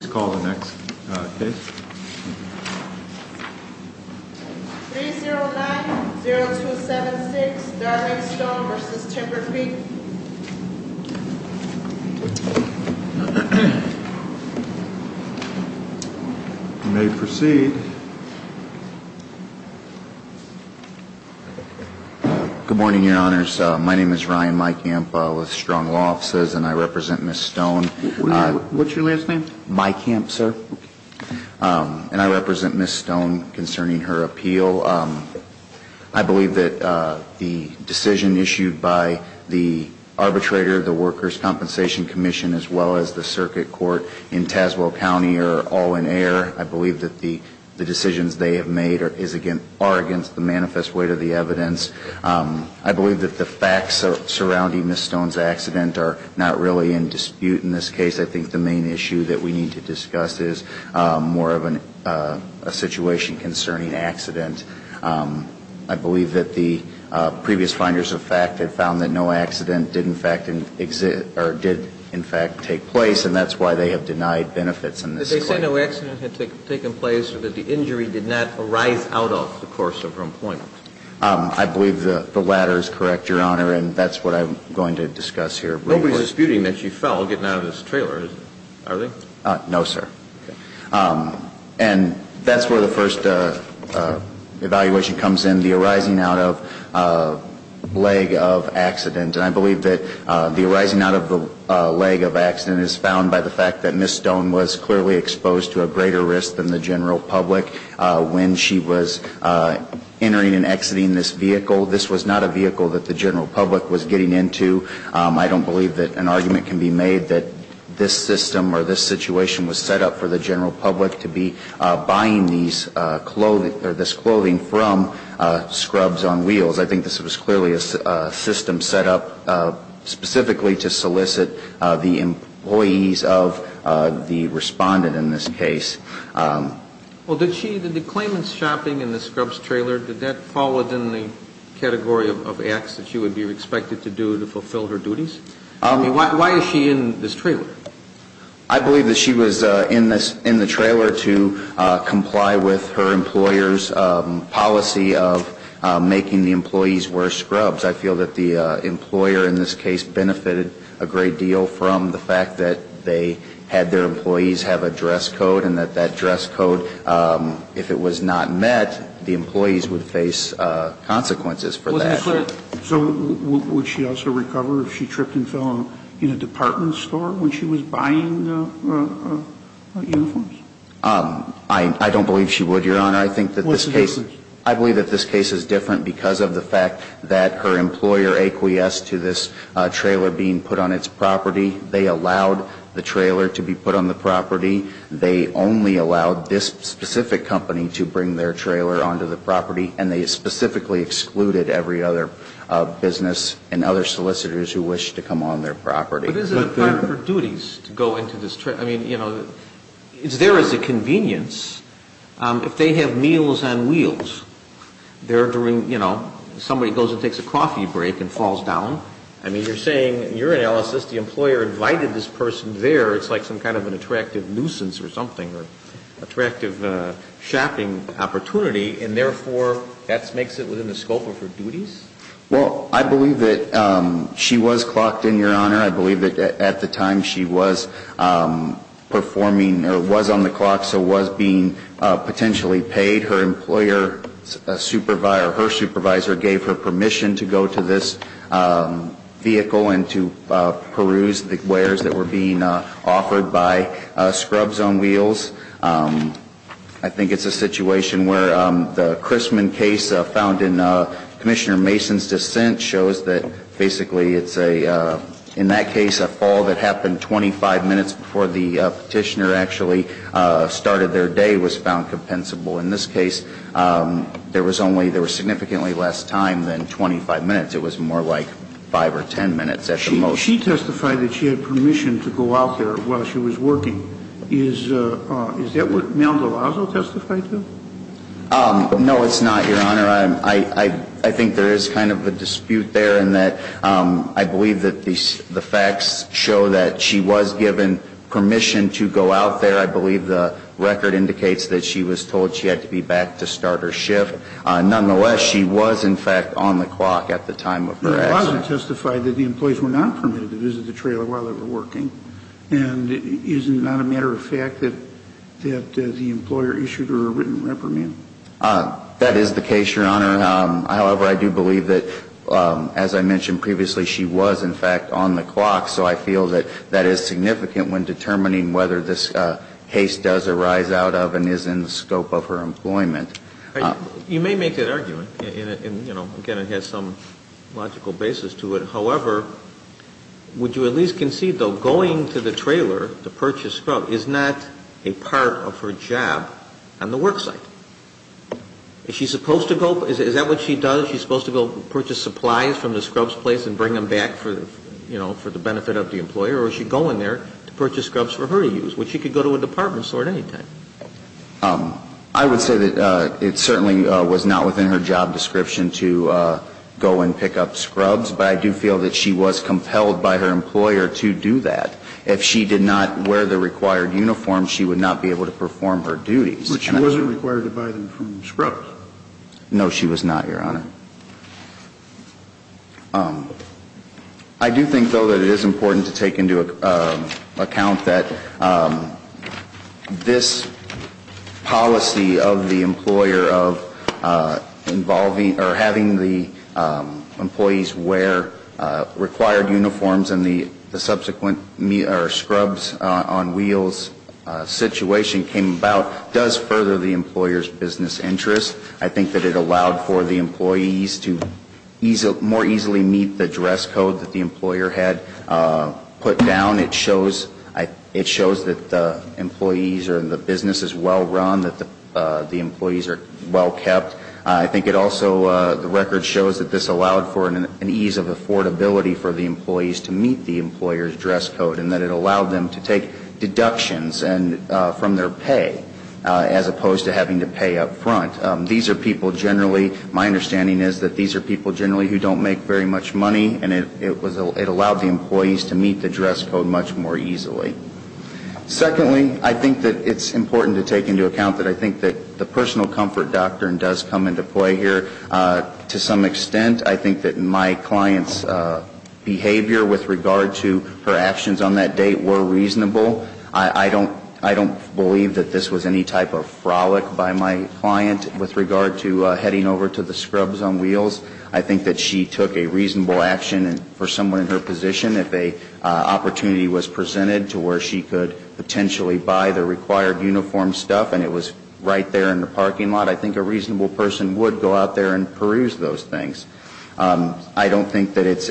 Let's call the next case. 3-0-9-0-2-7-6, Derrick Stone v. Timber Creek. You may proceed. Good morning, Your Honors. My name is Ryan Meikamp with Strong Law Offices, and I represent Ms. Stone. What's your last name? Meikamp, sir. And I represent Ms. Stone concerning her appeal. I believe that the decision issued by the arbitrator, the Workers' Compensation Commission, as well as the circuit court in Tazewell County are all in error. I believe that the decisions they have made are against the manifest weight of the evidence. I believe that the facts surrounding Ms. Stone's accident are not really in dispute in this case. I think the main issue that we need to discuss is more of a situation concerning accident. I believe that the previous finders of fact have found that no accident did, in fact, exist or did, in fact, take place, and that's why they have denied benefits in this case. But they say no accident had taken place or that the injury did not arise out of the course of her appointment. I believe the latter is correct, Your Honor, and that's what I'm going to discuss here briefly. Nobody's disputing that she fell getting out of this trailer, are they? No, sir. Okay. And that's where the first evaluation comes in, the arising out of leg of accident. And I believe that the arising out of the leg of accident is found by the fact that Ms. Stone was clearly exposed to a greater risk than the general public when she was entering and exiting this vehicle. This was not a vehicle that the general public was getting into. I don't believe that an argument can be made that this system or this situation was set up for the general public to be buying this clothing from Scrubs on Wheels. I think this was clearly a system set up specifically to solicit the employees of the respondent in this case. Well, did she, did the claimant's shopping in the Scrubs trailer, did that fall within the category of acts that she would be expected to do to fulfill her duties? I mean, why is she in this trailer? I believe that she was in this, in the trailer to comply with her employer's policy of making the employee wear scrubs. I feel that the employer in this case benefited a great deal from the fact that they had their employees have a dress code and that that dress code, if it was not met, the employees would face consequences for that. So would she also recover if she tripped and fell in a department store when she was buying uniforms? I don't believe she would, Your Honor. What's the difference? I believe that this case is different because of the fact that her employer acquiesced to this trailer being put on its property. They allowed the trailer to be put on the property. They only allowed this specific company to bring their trailer onto the property, and they specifically excluded every other business and other solicitors who wished to come on their property. But isn't it part of her duties to go into this trailer? I mean, you know, it's there as a convenience. If they have meals on wheels, they're doing, you know, somebody goes and takes a coffee break and falls down. I mean, you're saying in your analysis the employer invited this person there. It's like some kind of an attractive nuisance or something or attractive shopping opportunity, and therefore that makes it within the scope of her duties? Well, I believe that she was clocked in, Your Honor. I believe that at the time she was performing or was on the clock, so was being potentially paid. Her employer, her supervisor gave her permission to go to this vehicle and to peruse the wares that were being offered by Scrubs on Wheels. I think it's a situation where the Christman case found in Commissioner Mason's dissent shows that basically it's a, in that case, a fall that happened 25 minutes before the Petitioner actually started their day, was found compensable. In this case, there was only, there was significantly less time than 25 minutes. It was more like 5 or 10 minutes at the most. She testified that she had permission to go out there while she was working. Is that what Maldovazo testified to? No, it's not, Your Honor. Your Honor, I think there is kind of a dispute there in that I believe that the facts show that she was given permission to go out there. I believe the record indicates that she was told she had to be back to start her shift. Nonetheless, she was, in fact, on the clock at the time of her accident. Maldovazo testified that the employees were not permitted to visit the trailer while they were working. And is it not a matter of fact that the employer issued her a written reprimand? That is the case, Your Honor. However, I do believe that, as I mentioned previously, she was, in fact, on the clock. So I feel that that is significant when determining whether this case does arise out of and is in the scope of her employment. You may make that argument. And, you know, again, it has some logical basis to it. However, would you at least concede, though, going to the trailer to purchase scrub is not a part of her job on the work site? Is she supposed to go? Is that what she does? Is she supposed to go purchase supplies from the scrubs place and bring them back for, you know, for the benefit of the employer? Or is she going there to purchase scrubs for her to use, which she could go to a department store at any time? I would say that it certainly was not within her job description to go and pick up scrubs. But I do feel that she was compelled by her employer to do that. If she did not wear the required uniform, she would not be able to perform her duties. But she wasn't required to buy them from scrubs. No, she was not, Your Honor. I do think, though, that it is important to take into account that this policy of the employer of involving or having the employees wear required uniforms and the subsequent scrubs on wheels situation came about, does further the employer's business interest. I think that it allowed for the employees to more easily meet the dress code that the employer had put down. It shows that the employees or the business is well run, that the employees are well kept. I think it also, the record shows that this allowed for an ease of affordability for the employees to meet the employer's dress code and that it allowed them to take deductions from their pay as opposed to having to pay up front. These are people generally, my understanding is that these are people generally who don't make very much money and it allowed the employees to meet the dress code much more easily. Secondly, I think that it's important to take into account that I think that the personal comfort doctrine does come into play here. To some extent, I think that my client's behavior with regard to her actions on that date were reasonable. I don't believe that this was any type of frolic by my client with regard to heading over to the scrubs on wheels. I think that she took a reasonable action and for someone in her position, if an opportunity was presented to where she could potentially buy the required uniform stuff and it was right there in the parking lot, I think a reasonable person would go out there and peruse those things. I don't think that it's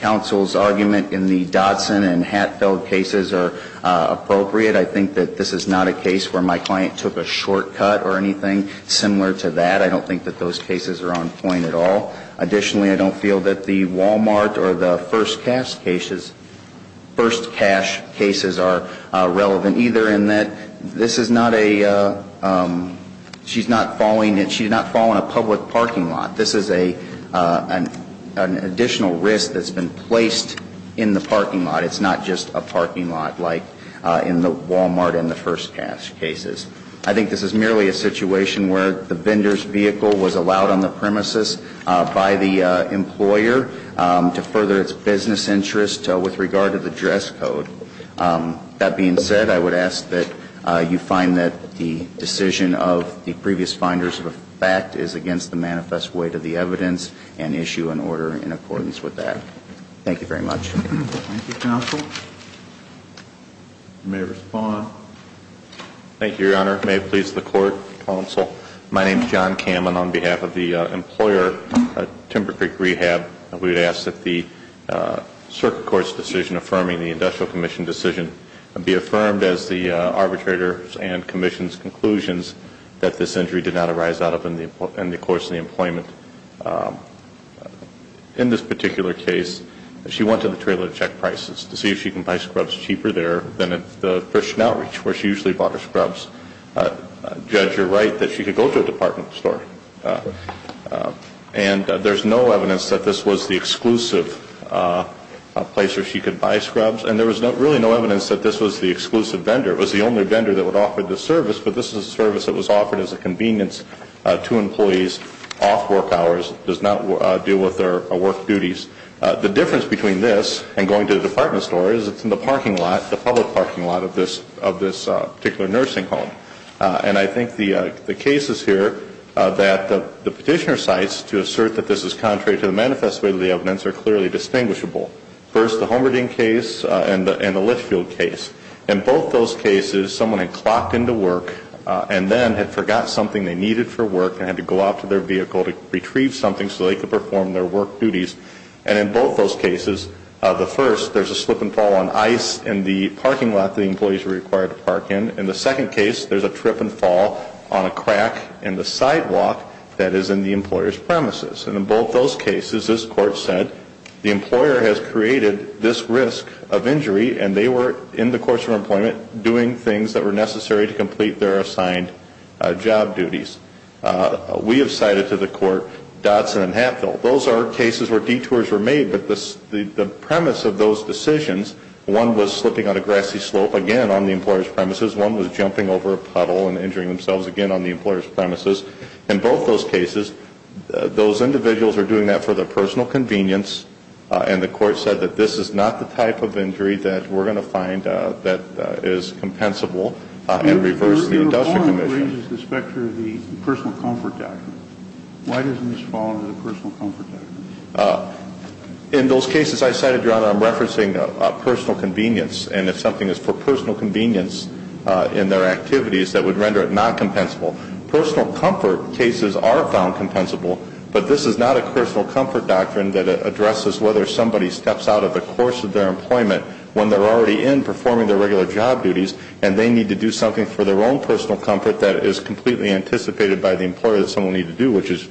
counsel's argument in the Dodson and Hatfield cases are appropriate. I think that this is not a case where my client took a shortcut or anything similar to that. I don't think that those cases are on point at all. Additionally, I don't feel that the Walmart or the First Cash cases are relevant either in that this is not a, she's not falling, she did not fall in a public parking lot. This is an additional risk that's been placed in the parking lot. It's not just a parking lot like in the Walmart and the First Cash cases. I think this is merely a situation where the vendor's vehicle was allowed on the premises by the employer to further its business interest with regard to the dress code. That being said, I would ask that you find that the decision of the previous finders of the fact is against the manifest weight of the evidence and issue an order in accordance with that. Thank you very much. Thank you, counsel. You may respond. Thank you, Your Honor. May it please the Court. Counsel, my name is John Kamen. On behalf of the employer, Timber Creek Rehab, we would ask that the circuit court's decision in affirming the industrial commission decision be affirmed as the arbitrator and commission's conclusions that this injury did not arise out of in the course of the employment. In this particular case, she went to the trailer to check prices to see if she can buy scrubs cheaper there than at the Christian Outreach where she usually bought her scrubs. Judge, you're right that she could go to a department store. And there's no evidence that this was the exclusive place where she could buy scrubs, and there was really no evidence that this was the exclusive vendor. It was the only vendor that would offer this service, but this is a service that was offered as a convenience to employees off work hours. It does not deal with their work duties. The difference between this and going to the department store is it's in the parking lot, the public parking lot of this particular nursing home. And I think the cases here that the petitioner cites to assert that this is contrary to the manifest way of the evidence are clearly distinguishable. First, the Homerding case and the Litchfield case. In both those cases, someone had clocked into work and then had forgot something they needed for work and had to go out to their vehicle to retrieve something so they could perform their work duties. And in both those cases, the first, there's a slip and fall on ice in the parking lot that the employees were required to park in. In the second case, there's a trip and fall on a crack in the sidewalk that is in the employer's premises. And in both those cases, this Court said the employer has created this risk of injury, and they were, in the course of employment, doing things that were necessary to complete their assigned job duties. We have cited to the Court Dodson and Hatfield. Those are cases where detours were made, but the premise of those decisions, one was slipping on a grassy slope, again, on the employer's premises. One was jumping over a puddle and injuring themselves, again, on the employer's premises. In both those cases, those individuals are doing that for their personal convenience, and the Court said that this is not the type of injury that we're going to find that is compensable and reverse the industrial commission. Your report raises the specter of the personal comfort doctrine. Why doesn't this fall under the personal comfort doctrine? In those cases I cited, Your Honor, I'm referencing personal convenience, and if something is for personal convenience in their activities, that would render it not compensable. Personal comfort cases are found compensable, but this is not a personal comfort doctrine that addresses whether somebody steps out of the course of their employment when they're already in performing their regular job duties, and they need to do something for their own personal comfort that is completely anticipated by the employer which is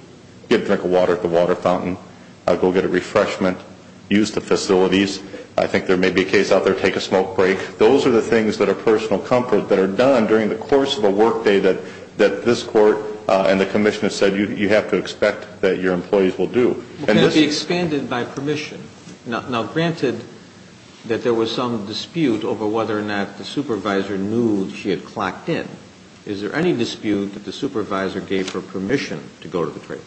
get a drink of water at the water fountain, go get a refreshment, use the facilities. I think there may be a case out there, take a smoke break. Those are the things that are personal comfort that are done during the course of a workday that this Court and the commission have said you have to expect that your employees will do. Can it be expanded by permission? Now, granted that there was some dispute over whether or not the supervisor knew she had clocked in, is there any dispute that the supervisor gave her permission to go to the trailer?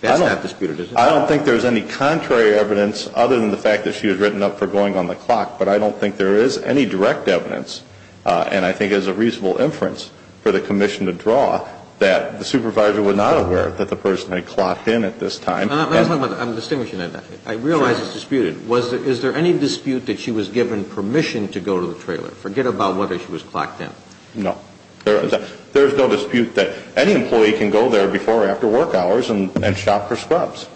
That's not disputed, is it? I don't think there's any contrary evidence other than the fact that she had written up for going on the clock, but I don't think there is any direct evidence, and I think it's a reasonable inference for the commission to draw, that the supervisor was not aware that the person had clocked in at this time. Let me talk about that. I'm distinguishing that. I realize it's disputed. Is there any dispute that she was given permission to go to the trailer? Forget about whether she was clocked in. No. There is no dispute that any employee can go there before or after work hours and shop for scrubs.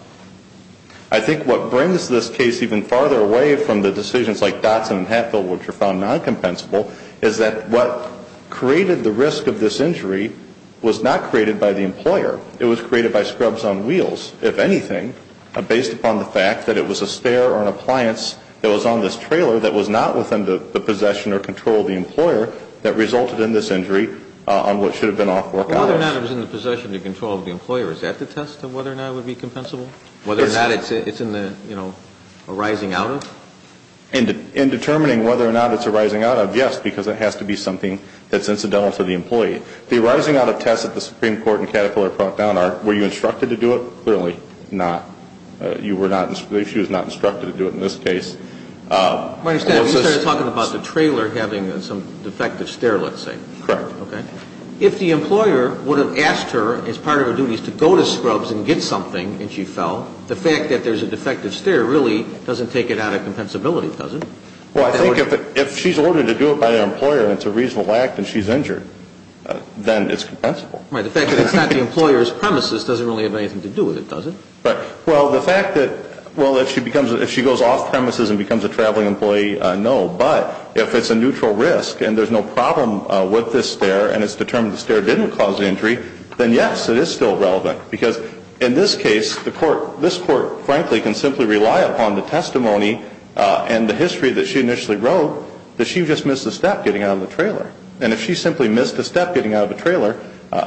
I think what brings this case even farther away from the decisions like Dotson and Hatfield, which are found non-compensable, is that what created the risk of this injury was not created by the employer. It was created by scrubs on wheels, if anything, based upon the fact that it was a stair or an appliance that was on this trailer that was not within the possession or control of the employer that resulted in this injury on what should have been off work hours. Whether or not it was in the possession or control of the employer, is that the test of whether or not it would be compensable? Yes. Whether or not it's in the, you know, arising out of? In determining whether or not it's arising out of, yes, because it has to be something that's incidental to the employee. The arising out of tests that the Supreme Court and Caterpillar brought down are, were you instructed to do it? Clearly not. You were not, she was not instructed to do it in this case. My understanding, you started talking about the trailer having some defective stair, let's say. Correct. Okay. If the employer would have asked her as part of her duties to go to scrubs and get something and she fell, the fact that there's a defective stair really doesn't take it out of compensability, does it? Well, I think if she's ordered to do it by the employer and it's a reasonable act and she's injured, then it's compensable. Right. The fact that it's not the employer's premises doesn't really have anything to do with it, does it? Right. Well, the fact that, well, if she becomes, if she goes off premises and becomes a traveling employee, no. But if it's a neutral risk and there's no problem with this stair and it's determined the stair didn't cause injury, then yes, it is still relevant. Because in this case, the Court, this Court frankly can simply rely upon the testimony and the history that she initially wrote that she just missed a step getting out of the trailer. And if she simply missed a step getting out of the trailer,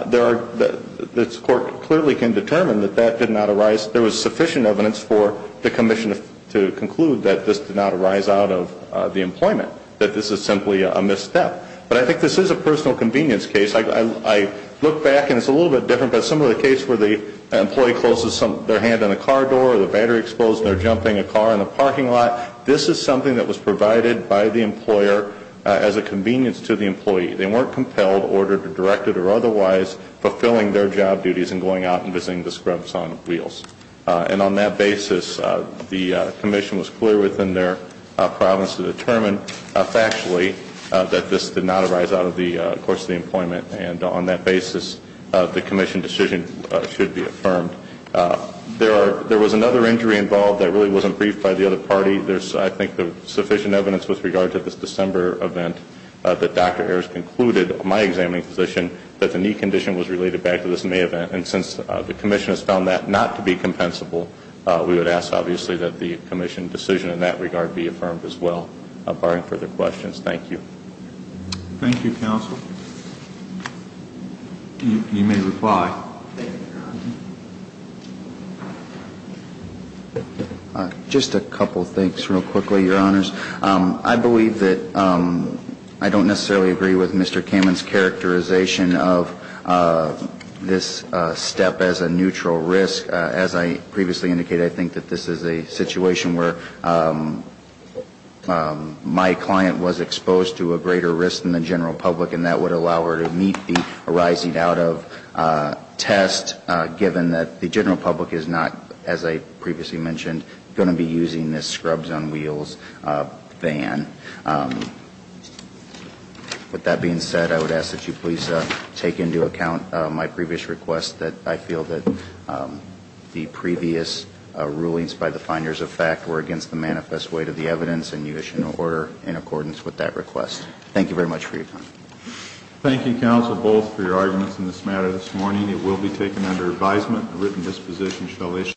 there are, the Court clearly can determine that that did not arise, there was sufficient evidence for the commission to conclude that this did not arise out of the employment, that this is simply a misstep. But I think this is a personal convenience case. I look back and it's a little bit different, but similar to the case where the employee closes their hand on a car door or the battery explodes and they're jumping a car in the parking lot, this is something that was provided by the employer as a convenience to the employee. They weren't compelled, ordered, or directed or otherwise fulfilling their job duties and going out and visiting the scrubs on wheels. And on that basis, the commission was clear within their province to determine factually that this did not arise out of the course of the employment. And on that basis, the commission decision should be affirmed. There was another injury involved that really wasn't briefed by the other party. There's, I think, sufficient evidence with regard to this December event that Dr. Ayers concluded, my examining physician, that the knee condition was related back to this May event. And since the commission has found that not to be compensable, we would ask, obviously, that the commission decision in that regard be affirmed as well, barring further questions. Thank you. Thank you, counsel. You may reply. Just a couple of things real quickly, Your Honors. I believe that I don't necessarily agree with Mr. Kamen's characterization of this step as a neutral risk. As I previously indicated, I think that this is a situation where my client was exposed to a greater risk than the general public and that would allow her to meet the arising out of test, given that the general public is not, as I previously mentioned, going to be using this scrubs on wheels ban. With that being said, I would ask that you please take into account my previous request, that I feel that the previous rulings by the finders of fact were against the manifest weight of the evidence and you issue an order in accordance with that request. Thank you very much for your time. Thank you, counsel, both for your arguments in this matter this morning. It will be taken under advisement. A written disposition shall issue.